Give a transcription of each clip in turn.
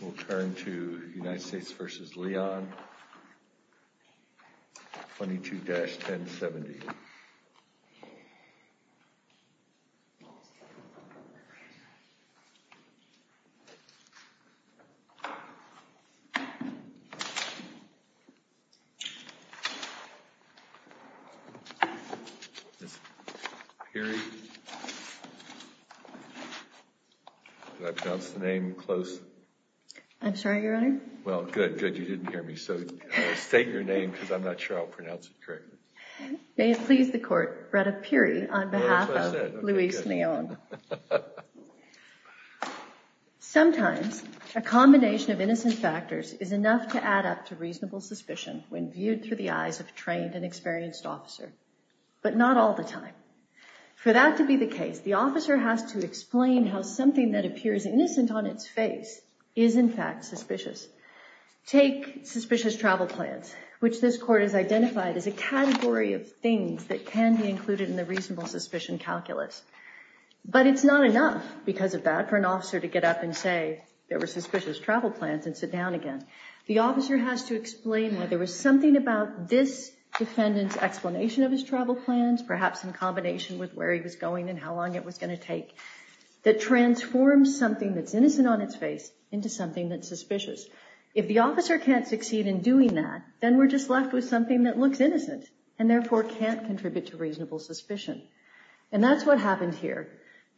We'll turn to United States v. Leon, 22-1070. Did I pronounce the name close? I'm sorry, Your Honor? Well, good, good, you didn't hear me. So state your name, because I'm not sure I'll pronounce it correctly. May it please the Court, Bretta Peary on behalf of Luis Leon. Sometimes a combination of innocent factors is enough to add up to reasonable suspicion when viewed through the eyes of a trained and experienced officer, but not all the time. For that to be the case, the officer has to explain how something that appears innocent on its face is in fact suspicious. Take suspicious travel plans, which this Court has identified as a category of things that can be included in the reasonable suspicion calculus. But it's not enough because of that for an officer to get up and say there were suspicious travel plans and sit down again. The officer has to explain why there was something about this defendant's explanation of his travel plans, perhaps in combination with where he was going and how long it was going to take, that transforms something that's innocent on its face into something that's suspicious. If the officer can't succeed in doing that, then we're just left with something that looks innocent and therefore can't contribute to reasonable suspicion. And that's what happened here.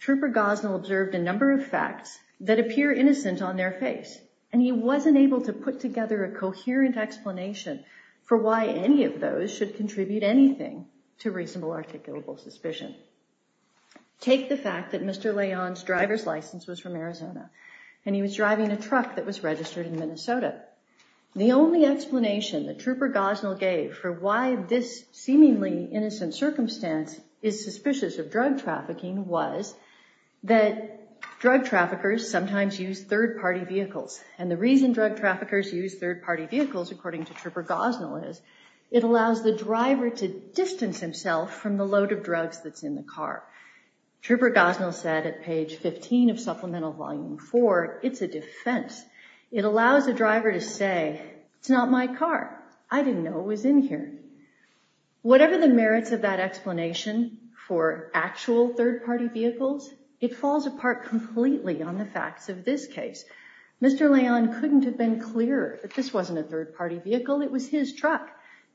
Trooper Gosnell observed a number of facts that appear innocent on their face, and he wasn't able to put together a coherent explanation for why any of those should contribute anything to reasonable articulable suspicion. Take the fact that Mr. Leon's driver's license was from Arizona, and he was driving a truck that was registered in Minnesota. The only explanation that Trooper Gosnell gave for why this seemingly innocent circumstance is suspicious of drug trafficking was that drug traffickers sometimes use third-party vehicles. And the reason drug traffickers use third-party vehicles, according to Trooper Gosnell, is it allows the driver to distance himself from the load of drugs that's in the car. Trooper Gosnell said at page 15 of Supplemental Volume 4, it's a defense. It allows the driver to say, It's not my car. I didn't know it was in here. Whatever the merits of that explanation for actual third-party vehicles, it falls apart completely on the facts of this case. Mr. Leon couldn't have been clearer that this wasn't a third-party vehicle. It was his truck.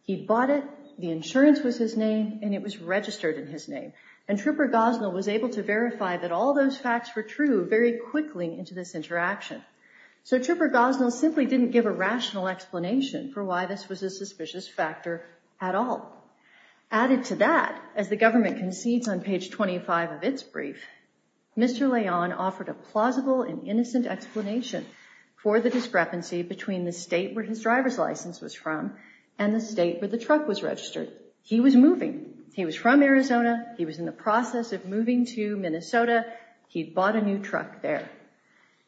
He bought it, the insurance was his name, and it was registered in his name. And Trooper Gosnell was able to verify that all those facts were true very quickly into this interaction. So Trooper Gosnell simply didn't give a rational explanation for why this was a suspicious factor at all. Added to that, as the government concedes on page 25 of its brief, Mr. Leon offered a plausible and innocent explanation for the discrepancy between the state where his driver's license was from and the state where the truck was registered. He was moving. He was from Arizona. He was in the process of moving to Minnesota. He bought a new truck there.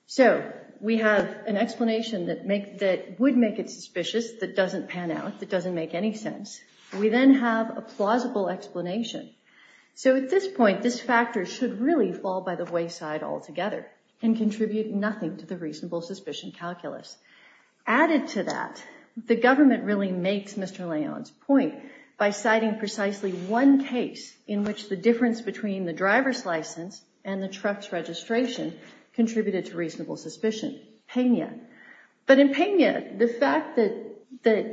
So we have an explanation that would make it suspicious, that doesn't pan out, that doesn't make any sense. We then have a plausible explanation. So at this point, this factor should really fall by the wayside altogether and contribute nothing to the reasonable suspicion calculus. Added to that, the government really makes Mr. Leon's point by citing precisely one case in which the difference between the driver's license and the truck's registration contributed to reasonable suspicion, Pena. But in Pena, the fact that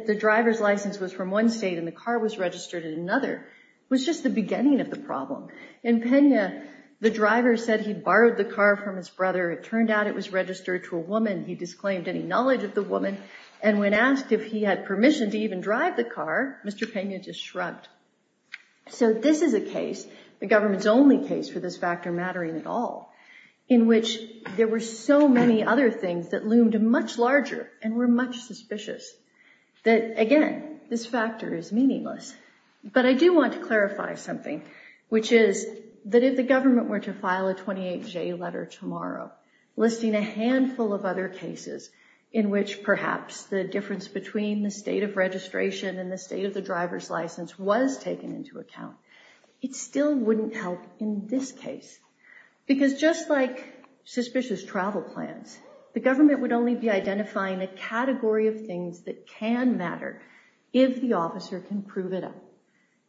the driver's license was from one state and the car was registered in another was just the beginning of the problem. In Pena, the driver said he borrowed the car from his brother. It turned out it was registered to a woman. He disclaimed any knowledge of the woman, and when asked if he had permission to even drive the car, Mr. Pena just shrugged. So this is a case, the government's only case for this factor mattering at all, in which there were so many other things that loomed much larger and were much suspicious that, again, this factor is meaningless. But I do want to clarify something, which is that if the government were to file a 28J letter tomorrow listing a handful of other cases in which perhaps the difference between the state of registration and the state of the driver's license was taken into account, it still wouldn't help in this case. Because just like suspicious travel plans, the government would only be identifying a category of things that can matter if the officer can prove it up,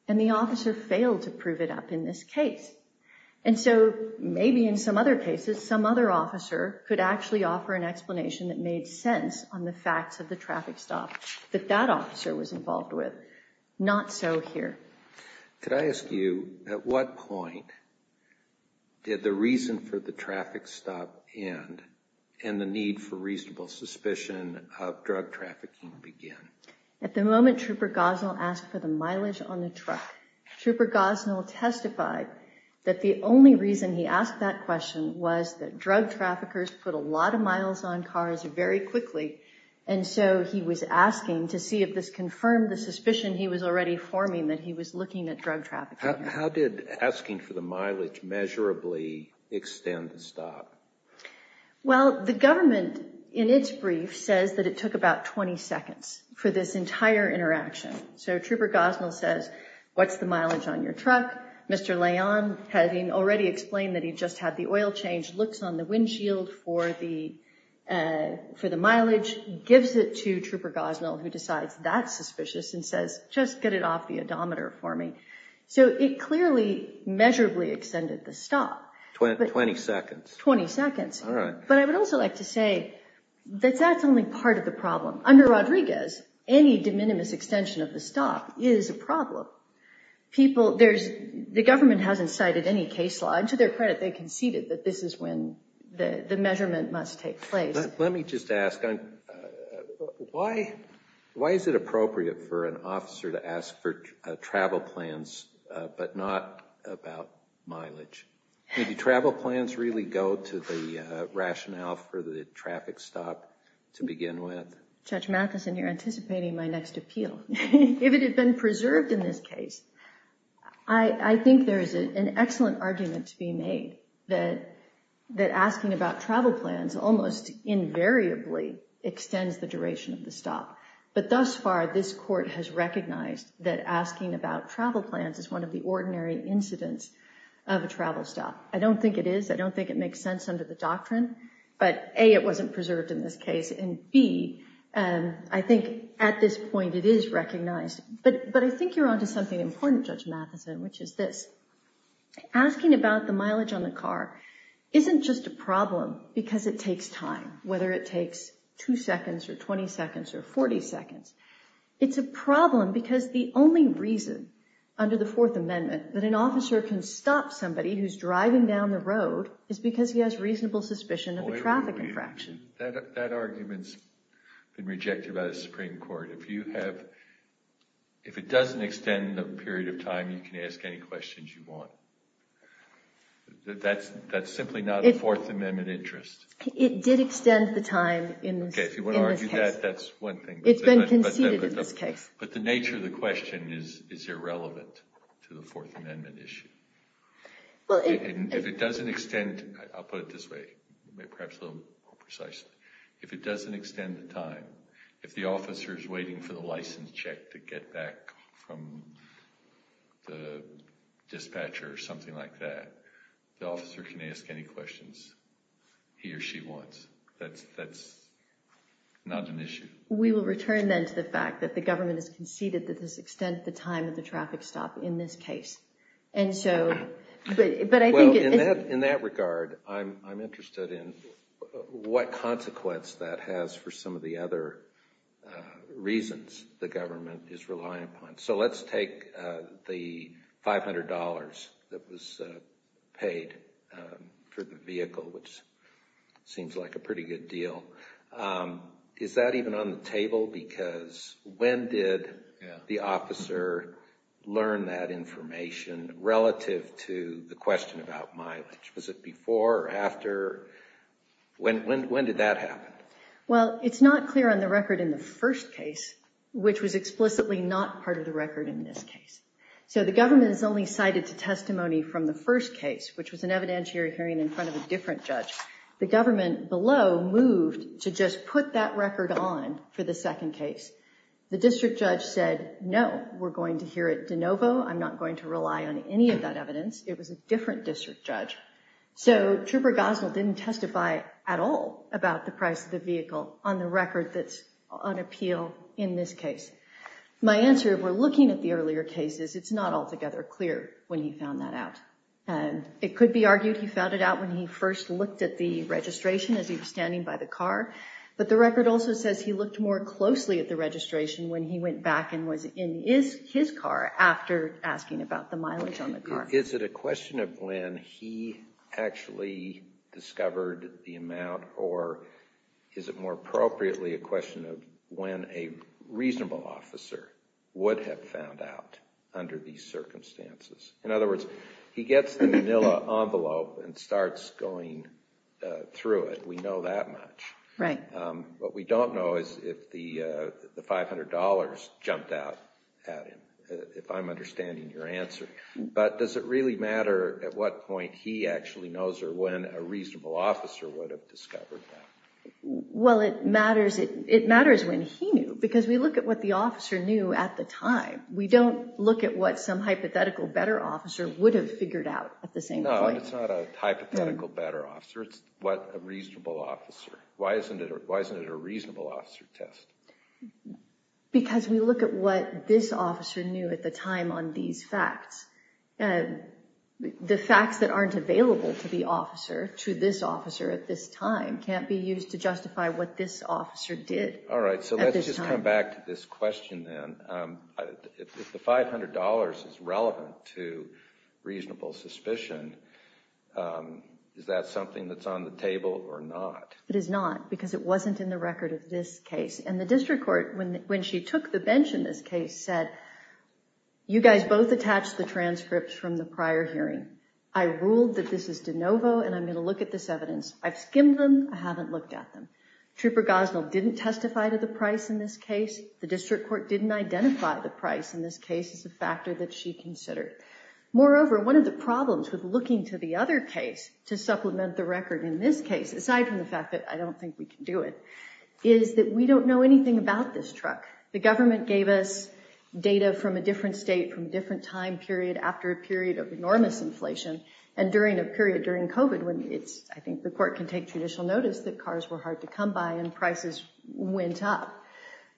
and the officer failed to prove it up in this case. And so maybe in some other cases, some other officer could actually offer an explanation that made sense on the facts of the traffic stop that that officer was involved with. Not so here. Could I ask you, at what point did the reason for the traffic stop end and the need for reasonable suspicion of drug trafficking begin? At the moment, Trooper Gosnell asked for the mileage on the truck. Trooper Gosnell testified that the only reason he asked that question was that drug traffickers put a lot of miles on cars very quickly, and so he was asking to see if this confirmed the suspicion he was already forming that he was looking at drug trafficking. How did asking for the mileage measurably extend the stop? Well, the government, in its brief, says that it took about 20 seconds for this entire interaction. So Trooper Gosnell says, what's the mileage on your truck? Mr. Leon, having already explained that he just had the oil changed, looks on the windshield for the mileage, gives it to Trooper Gosnell, who decides that's suspicious, and says, just get it off the odometer for me. So it clearly measurably extended the stop. Twenty seconds. Twenty seconds. All right. But I would also like to say that that's only part of the problem. Under Rodriguez, any de minimis extension of the stop is a problem. The government hasn't cited any case law, and to their credit they conceded that this is when the measurement must take place. Let me just ask, why is it appropriate for an officer to ask for travel plans but not about mileage? Do travel plans really go to the rationale for the traffic stop to begin with? Judge Matheson, you're anticipating my next appeal. If it had been preserved in this case, I think there is an excellent argument to be made that asking about travel plans almost invariably extends the duration of the stop. But thus far, this Court has recognized that asking about travel plans is one of the ordinary incidents of a travel stop. I don't think it is. I don't think it makes sense under the doctrine. But A, it wasn't preserved in this case, and B, I think at this point it is recognized. But I think you're on to something important, Judge Matheson, which is this. Asking about the mileage on the car isn't just a problem because it takes time, whether it takes 2 seconds or 20 seconds or 40 seconds. It's a problem because the only reason under the Fourth Amendment that an officer can stop somebody who's driving down the road is because he has reasonable suspicion of a traffic infraction. That argument's been rejected by the Supreme Court. If it doesn't extend the period of time, you can ask any questions you want. That's simply not a Fourth Amendment interest. It did extend the time in this case. Okay, if you want to argue that, that's one thing. It's been conceded in this case. But the nature of the question is irrelevant to the Fourth Amendment issue. If it doesn't extend, I'll put it this way, perhaps a little more precisely. If it doesn't extend the time, if the officer's waiting for the license check to get back from the dispatcher or something like that, the officer can ask any questions he or she wants. That's not an issue. We will return then to the fact that the government has conceded that this extends the time of the traffic stop in this case. In that regard, I'm interested in what consequence that has for some of the other reasons the government is relying upon. Let's take the $500 that was paid for the vehicle, which seems like a pretty good deal. Is that even on the table? Because when did the officer learn that information relative to the question about mileage? Was it before or after? When did that happen? Well, it's not clear on the record in the first case, which was explicitly not part of the record in this case. So the government has only cited to testimony from the first case, which was an evidentiary hearing in front of a different judge. The government below moved to just put that record on for the second case. The district judge said, no, we're going to hear it de novo. I'm not going to rely on any of that evidence. It was a different district judge. So Trooper Gosnell didn't testify at all about the price of the vehicle on the record that's on appeal in this case. My answer, if we're looking at the earlier cases, it's not altogether clear when he found that out. It could be argued he found it out when he first looked at the registration as he was standing by the car. But the record also says he looked more closely at the registration when he went back and was in his car after asking about the mileage on the car. Is it a question of when he actually discovered the amount, or is it more appropriately a question of when a reasonable officer would have found out under these circumstances? In other words, he gets the manila envelope and starts going through it. We know that much. Right. What we don't know is if the $500 jumped out at him, if I'm understanding your answer. But does it really matter at what point he actually knows or when a reasonable officer would have discovered that? Well, it matters when he knew, because we look at what the officer knew at the time. We don't look at what some hypothetical better officer would have figured out at the same point. No, it's not a hypothetical better officer. It's what a reasonable officer. Why isn't it a reasonable officer test? Because we look at what this officer knew at the time on these facts. The facts that aren't available to the officer, to this officer at this time, All right, so let's just come back to this question then. If the $500 is relevant to reasonable suspicion, is that something that's on the table or not? It is not, because it wasn't in the record of this case. And the district court, when she took the bench in this case, said, you guys both attached the transcripts from the prior hearing. I ruled that this is de novo, and I'm going to look at this evidence. I've skimmed them. I haven't looked at them. Trooper Gosnell didn't testify to the price in this case. The district court didn't identify the price in this case as a factor that she considered. Moreover, one of the problems with looking to the other case to supplement the record in this case, aside from the fact that I don't think we can do it, is that we don't know anything about this truck. The government gave us data from a different state, from a different time period, after a period of enormous inflation, and during a period during COVID, I think the court can take judicial notice that cars were hard to come by and prices went up.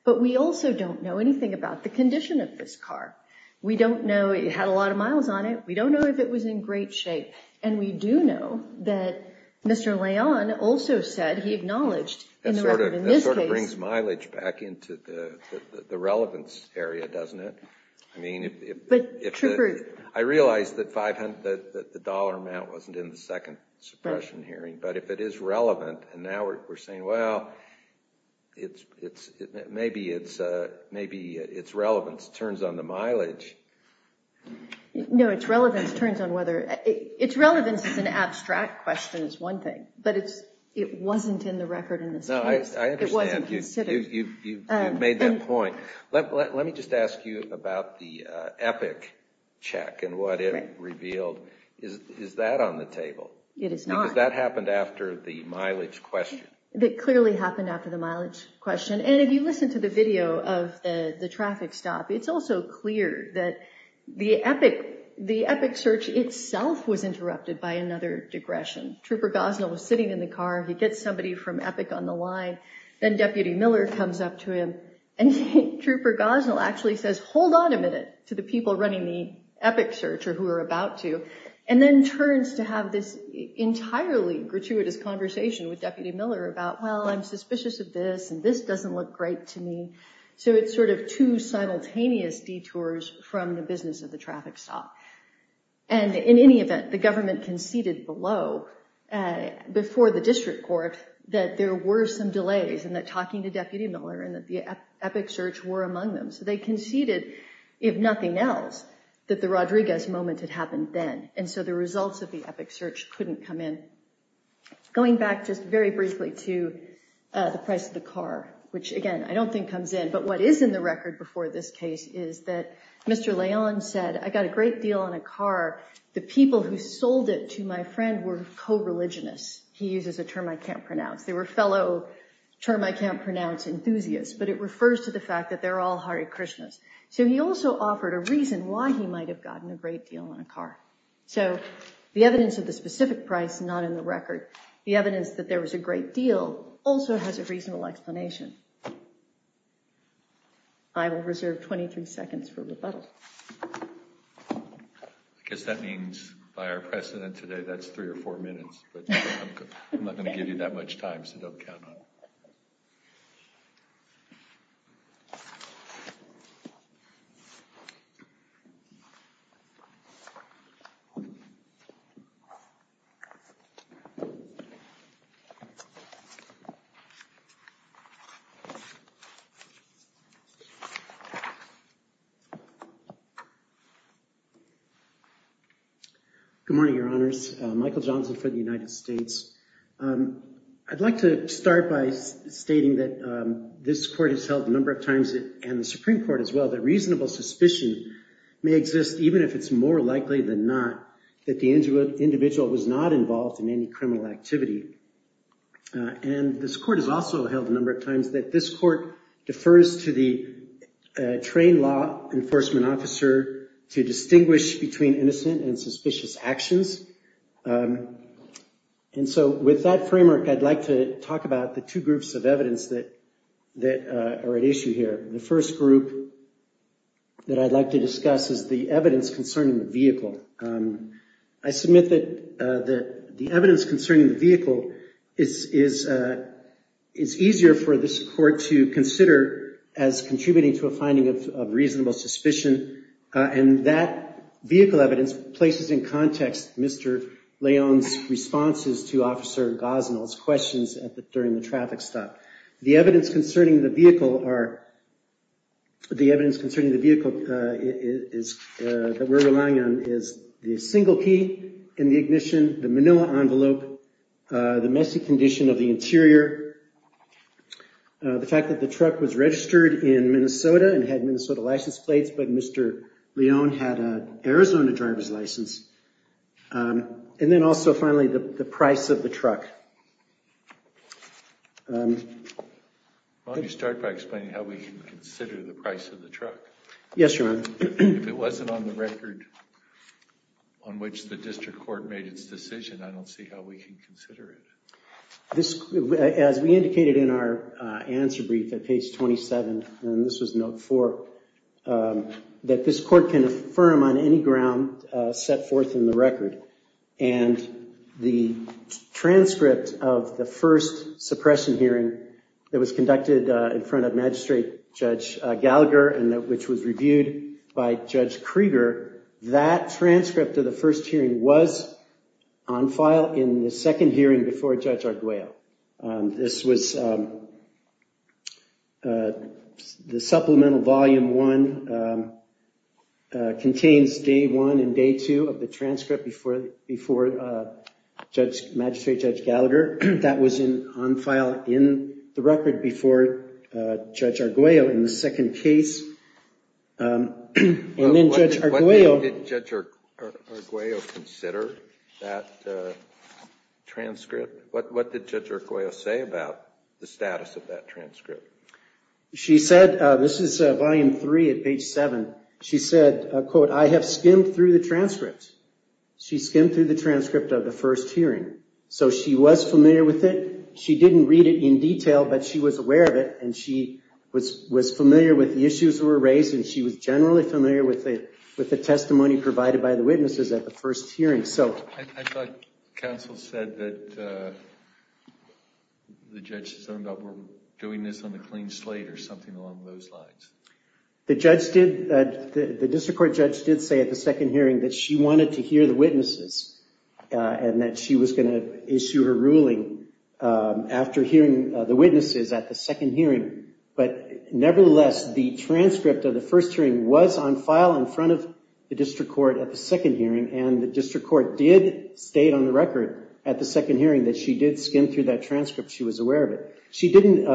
But we also don't know anything about the condition of this car. We don't know. It had a lot of miles on it. We don't know if it was in great shape. And we do know that Mr. Leon also said he acknowledged in the record in this case. That sort of brings mileage back into the relevance area, doesn't it? I mean, if the- But, Trooper- I realize that the dollar amount wasn't in the second suppression hearing, but if it is relevant, and now we're saying, well, maybe its relevance turns on the mileage. No, its relevance turns on whether- Its relevance as an abstract question is one thing, but it wasn't in the record in this case. No, I understand. It wasn't considered. You've made that point. Let me just ask you about the Epic check and what it revealed. Is that on the table? It is not. Because that happened after the mileage question. It clearly happened after the mileage question. And if you listen to the video of the traffic stop, it's also clear that the Epic search itself was interrupted by another digression. Trooper Gosnell was sitting in the car. He gets somebody from Epic on the line. Then Deputy Miller comes up to him, and Trooper Gosnell actually says, hold on a minute to the people running the Epic search, or who we're about to, and then turns to have this entirely gratuitous conversation with Deputy Miller about, well, I'm suspicious of this, and this doesn't look great to me. So it's sort of two simultaneous detours from the business of the traffic stop. And in any event, the government conceded below, before the district court, that there were some delays, and that talking to Deputy Miller, and that the Epic search were among them. So they conceded, if nothing else, that the Rodriguez moment had happened then. And so the results of the Epic search couldn't come in. Going back just very briefly to the price of the car, which, again, I don't think comes in, but what is in the record before this case is that Mr. Leon said, I got a great deal on a car. The people who sold it to my friend were co-religionists. He uses a term I can't pronounce. They were fellow term-I-can't-pronounce enthusiasts, but it refers to the fact that they're all Hare Krishnas. So he also offered a reason why he might have gotten a great deal on a car. So the evidence of the specific price is not in the record. The evidence that there was a great deal also has a reasonable explanation. I will reserve 23 seconds for rebuttal. I guess that means, by our precedent today, that's three or four minutes, but I'm not going to give you that much time, so don't count on it. Good morning, Your Honors. Michael Johnson for the United States. I'd like to start by stating that this court has held a number of times, and the Supreme Court as well, that reasonable suspicion may exist, even if it's more likely than not that the individual was not involved in any criminal activity. And this court has also held a number of times that this court defers to the trained law enforcement officer to distinguish between innocent and suspicious actions. And so with that framework, I'd like to talk about the two groups of evidence that are at issue here. The first group that I'd like to discuss is the evidence concerning the vehicle. I submit that the evidence concerning the vehicle is easier for this court to consider as contributing to a finding of reasonable suspicion, and that vehicle evidence places in context Mr. Leon's responses to Officer Gosnell's questions during the traffic stop. The evidence concerning the vehicle that we're relying on is the single key in the ignition, the manila envelope, the messy condition of the interior, the fact that the truck was registered in Minnesota and had Minnesota license plates, but Mr. Leon had an Arizona driver's license, and then also, finally, the price of the truck. Let me start by explaining how we can consider the price of the truck. Yes, Your Honor. If it wasn't on the record on which the district court made its decision, I don't see how we can consider it. As we indicated in our answer brief at page 27, and this was note four, that this court can affirm on any ground set forth in the record, and the transcript of the first suppression hearing that was conducted in front of Magistrate Judge Gallagher and which was reviewed by Judge Krieger, that transcript of the first hearing was on file in the second hearing before Judge Arguello. This was the supplemental volume one contains day one and day two of the transcript before Magistrate Judge Gallagher. That was on file in the record before Judge Arguello in the second case. What did Judge Arguello consider in that transcript? What did Judge Arguello say about the status of that transcript? She said, this is volume three at page seven, she said, quote, I have skimmed through the transcript. She skimmed through the transcript of the first hearing, so she was familiar with it. She didn't read it in detail, but she was aware of it, and she was familiar with the issues that were raised, and she was generally familiar with the testimony provided by the witnesses at the first hearing. I thought counsel said that the judges ended up doing this on the clean slate or something along those lines. The district court judge did say at the second hearing that she wanted to hear the witnesses and that she was going to issue her ruling after hearing the witnesses at the second hearing. But nevertheless, the transcript of the first hearing was on file in front of the district court at the second hearing, and the district court did state on the record at the second hearing that she did skim through that transcript. She was aware of it. She didn't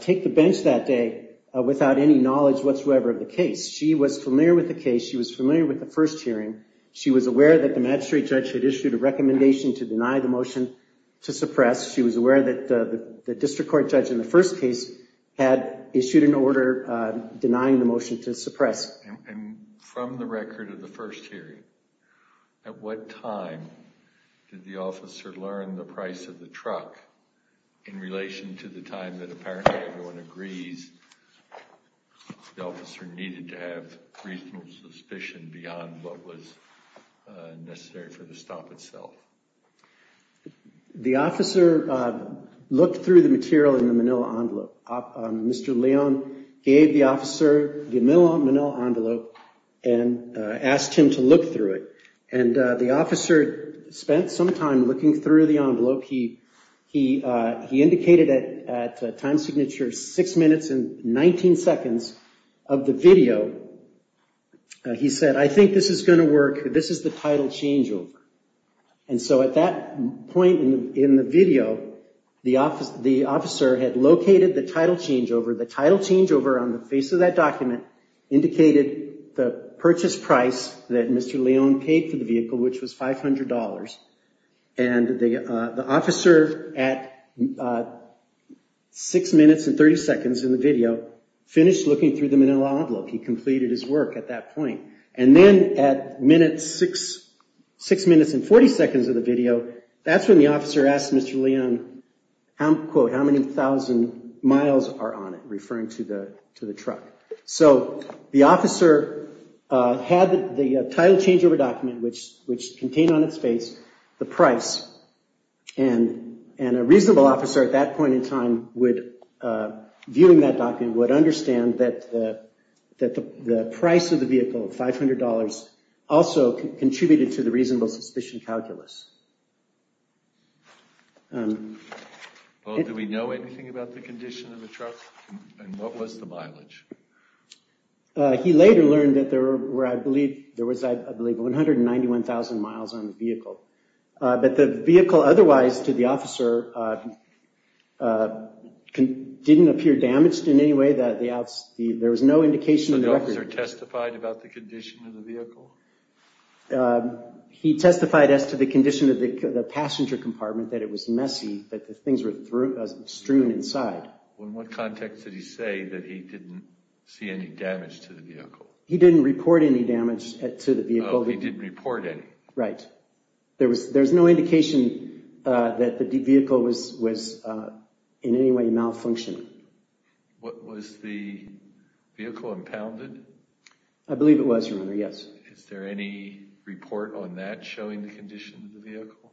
take the bench that day without any knowledge whatsoever of the case. She was familiar with the case. She was familiar with the first hearing. She was aware that the magistrate judge had issued a recommendation to deny the motion to suppress. She was aware that the district court judge in the first case had issued an order denying the motion to suppress. And from the record of the first hearing, at what time did the officer learn the price of the truck in relation to the time that apparently everyone agrees the officer needed to have reasonable suspicion beyond what was necessary for the stop itself? The officer looked through the material in the manila envelope. Mr. Leon gave the officer the manila envelope and asked him to look through it. And the officer spent some time looking through the envelope. He indicated at time signature six minutes and 19 seconds of the video. He said, I think this is going to work. This is the title changeover. And so at that point in the video, the officer had located the title changeover. The title changeover on the face of that document indicated the purchase price that Mr. Leon paid for the vehicle, which was $500. And the officer, at six minutes and 30 seconds in the video, finished looking through the manila envelope. He completed his work at that point. And then at six minutes and 40 seconds of the video, that's when the officer asked Mr. Leon, quote, how many thousand miles are on it, referring to the truck. So the officer had the title changeover document, which contained on its face the price. And a reasonable officer at that point in time would, viewing that document, would understand that the price of the vehicle, $500, also contributed to the reasonable suspicion calculus. Well, do we know anything about the condition of the truck? And what was the mileage? He later learned that there were, I believe, there was, I believe, 191,000 miles on the vehicle. But the vehicle otherwise to the officer didn't appear damaged in any way. There was no indication of the record. So the officer testified about the condition of the vehicle? He testified as to the condition of the passenger compartment, that it was messy, that the things were strewn inside. In what context did he say that he didn't see any damage to the vehicle? He didn't report any damage to the vehicle. Oh, he didn't report any. Right. There was no indication that the vehicle was in any way malfunctioning. Was the vehicle impounded? I believe it was, Your Honor, yes. Is there any report on that showing the condition of the vehicle?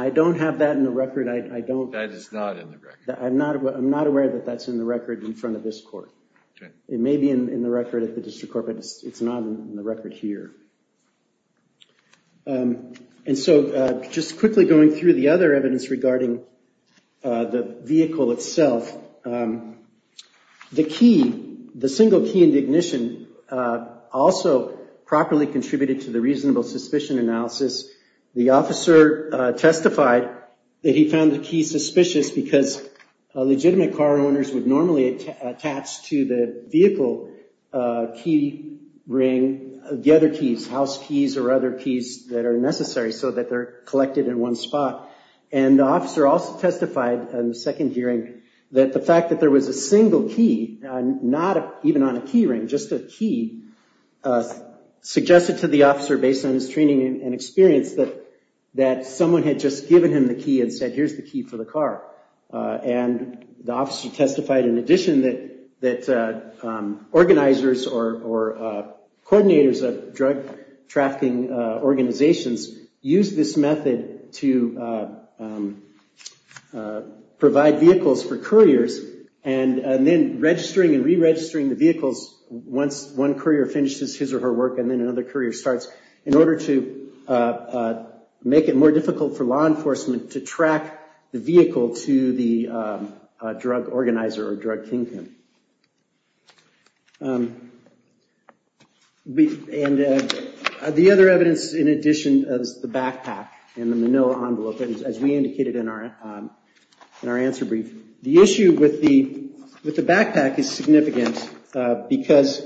I don't have that in the record. I don't. That is not in the record. I'm not aware that that's in the record in front of this court. Okay. It may be in the record at the district court, but it's not in the record here. And so just quickly going through the other evidence regarding the vehicle itself, the key, the single key in the ignition, also properly contributed to the reasonable suspicion analysis. The officer testified that he found the key suspicious because legitimate car owners would normally attach to the vehicle key ring the other keys, house keys or other keys that are necessary so that they're collected in one spot. And the officer also testified in the second hearing that the fact that there was a single key, not even on a key ring, just a key, suggested to the officer based on his training and experience that someone had just given him the key and said, here's the key for the car. And the officer testified in addition that organizers or coordinators of drug trafficking organizations use this method to provide vehicles for couriers and then registering and re-registering the vehicles once one courier finishes his or her work and then another courier starts in order to make it more difficult for law enforcement to track the vehicle to the drug organizer or drug kingpin. And the other evidence in addition is the backpack and the manila envelope, as we indicated in our answer brief. The issue with the backpack is significant because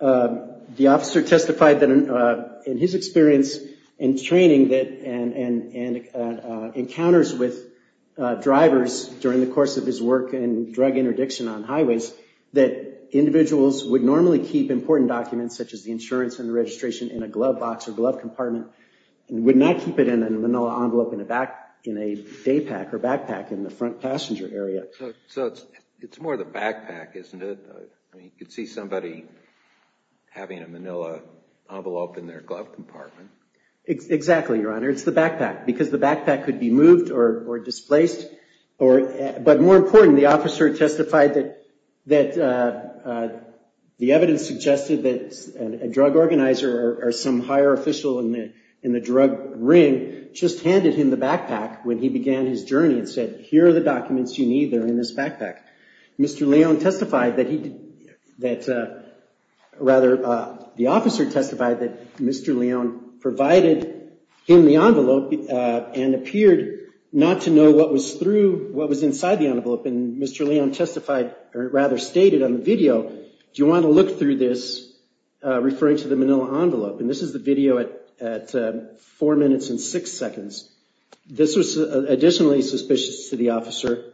the officer testified that in his experience and training and encounters with drivers during the course of his work in drug interdiction on highways, that individuals would normally keep important documents such as the insurance and registration in a glove box or glove compartment and would not keep it in a manila envelope in a backpack in the front passenger area. So it's more the backpack, isn't it? You could see somebody having a manila envelope in their glove compartment. Exactly, Your Honor. It's the backpack because the backpack could be moved or displaced. But more important, the officer testified that the evidence suggested that a drug organizer or some higher official in the drug ring just handed him the backpack when he began his journey and said, here are the documents you need. They're in this backpack. Mr. Leone testified that he, rather, the officer testified that Mr. Leone provided him the envelope and appeared not to know what was through, what was inside the envelope. And Mr. Leone testified, or rather stated on the video, do you want to look through this referring to the manila envelope? And this is the video at four minutes and six seconds. This was additionally suspicious to the officer.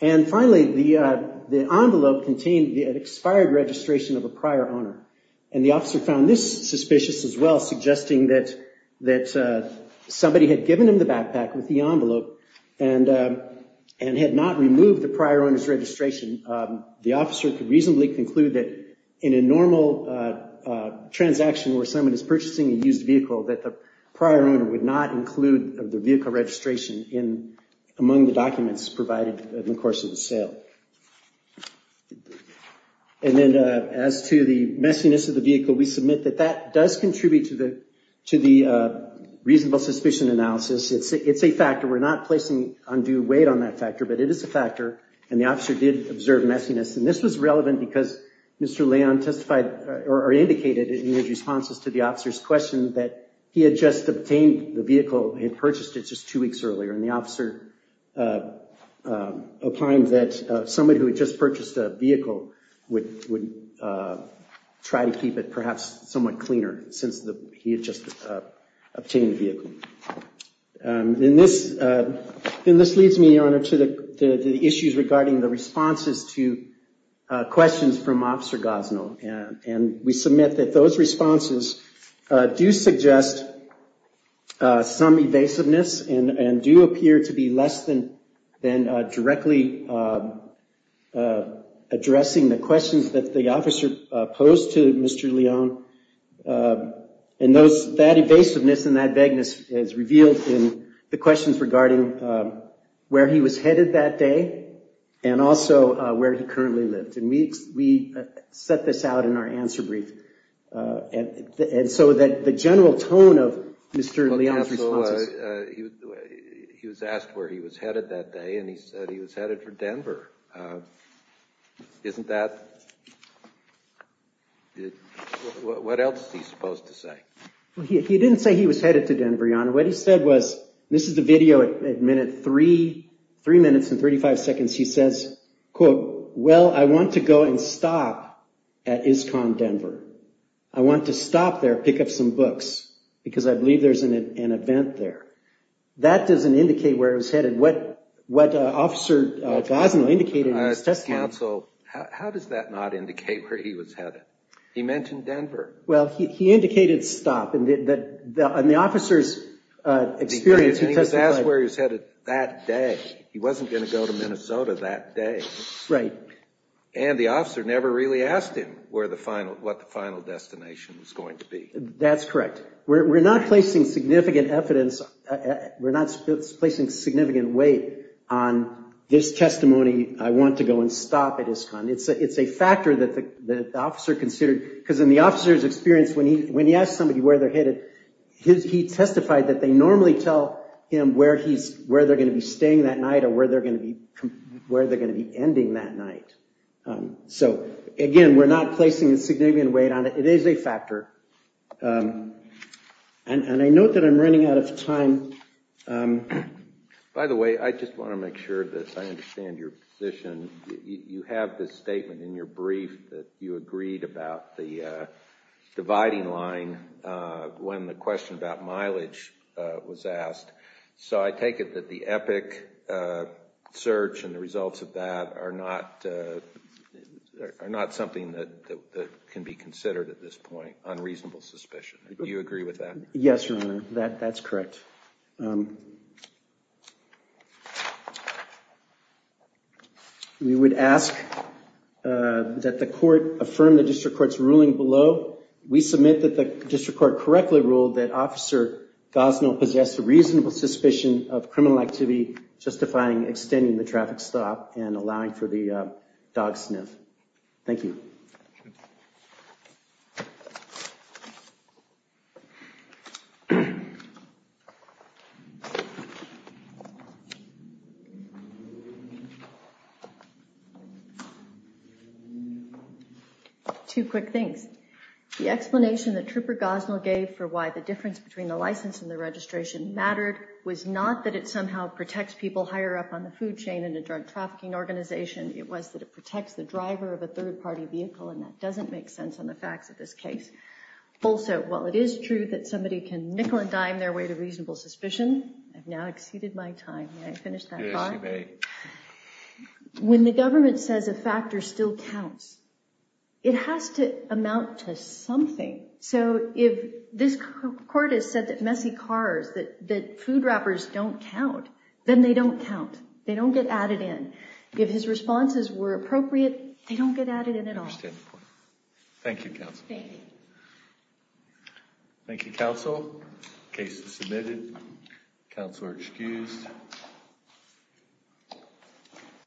And finally, the envelope contained the expired registration of a prior owner. And the officer found this suspicious as well, suggesting that somebody had given him the backpack with the envelope and had not removed the prior owner's registration. The officer could reasonably conclude that in a normal transaction where someone is purchasing a used vehicle, that the prior owner would not include the vehicle registration among the documents provided in the course of the sale. And then as to the messiness of the vehicle, we submit that that does contribute to the reasonable suspicion analysis. It's a factor. We're not placing undue weight on that factor, but it is a factor. And the officer did observe messiness. And this was relevant because Mr. Leone testified, or indicated in his responses to the officer's question, that he had just obtained the vehicle, had purchased it just two weeks earlier. And the officer opined that somebody who had just purchased a vehicle would try to keep it perhaps somewhat cleaner And this leads me, Your Honor, to the issues regarding the responses to questions from Officer Gosnell. And we submit that those responses do suggest some evasiveness and do appear to be less than directly addressing the questions that the officer posed to Mr. Leone. And that evasiveness and that vagueness is revealed in the questions regarding where he was headed that day and also where he currently lived. And we set this out in our answer brief. And so that the general tone of Mr. Leone's responses He was asked where he was headed that day, and he said he was headed for Denver. Isn't that... What else is he supposed to say? He didn't say he was headed to Denver, Your Honor. What he said was, this is the video at minute 3, 3 minutes and 35 seconds. He says, quote, well, I want to go and stop at ISCOM Denver. I want to stop there, pick up some books, because I believe there's an event there. That doesn't indicate where he was headed. What Officer Gosnell indicated in his testimony... Counsel, how does that not indicate where he was headed? He mentioned Denver. Well, he indicated stop. In the officer's experience, he testified... He was asked where he was headed that day. He wasn't going to go to Minnesota that day. Right. And the officer never really asked him what the final destination was going to be. That's correct. We're not placing significant evidence. We're not placing significant weight on this testimony. I want to go and stop at ISCOM. It's a factor that the officer considered, because in the officer's experience, when he asked somebody where they're headed, he testified that they normally tell him where they're going to be staying that night or where they're going to be ending that night. So, again, we're not placing significant weight on it. It is a factor. And I note that I'm running out of time. By the way, I just want to make sure that I understand your position. You have this statement in your brief that you agreed about the dividing line when the question about mileage was asked. So I take it that the EPIC search and the results of that are not something that can be considered at this point. Do you agree with that? Yes, Your Honor. That's correct. We would ask that the court affirm the district court's ruling below. We submit that the district court correctly ruled that Officer Gosnell possessed a reasonable suspicion of criminal activity justifying extending the traffic stop and allowing for the dog sniff. Thank you. Two quick things. The explanation that Trooper Gosnell gave for why the difference between the license and the registration mattered was not that it somehow protects people higher up on the food chain in a drug trafficking organization. It was that it protects the driver of a third-party vehicle, and that doesn't make sense on the facts of this case. Also, while it is true that somebody can nickel and dime their way to reasonable suspicion, I've now exceeded my time. May I finish that thought? Yes, you may. When the government says a factor still counts, it has to amount to something. So if this court has said that messy cars, that food wrappers don't count, then they don't count. They don't get added in. If his responses were appropriate, they don't get added in at all. I understand the point. Thank you, Counsel. Thank you. Thank you, Counsel. Case is submitted. Counselor excused.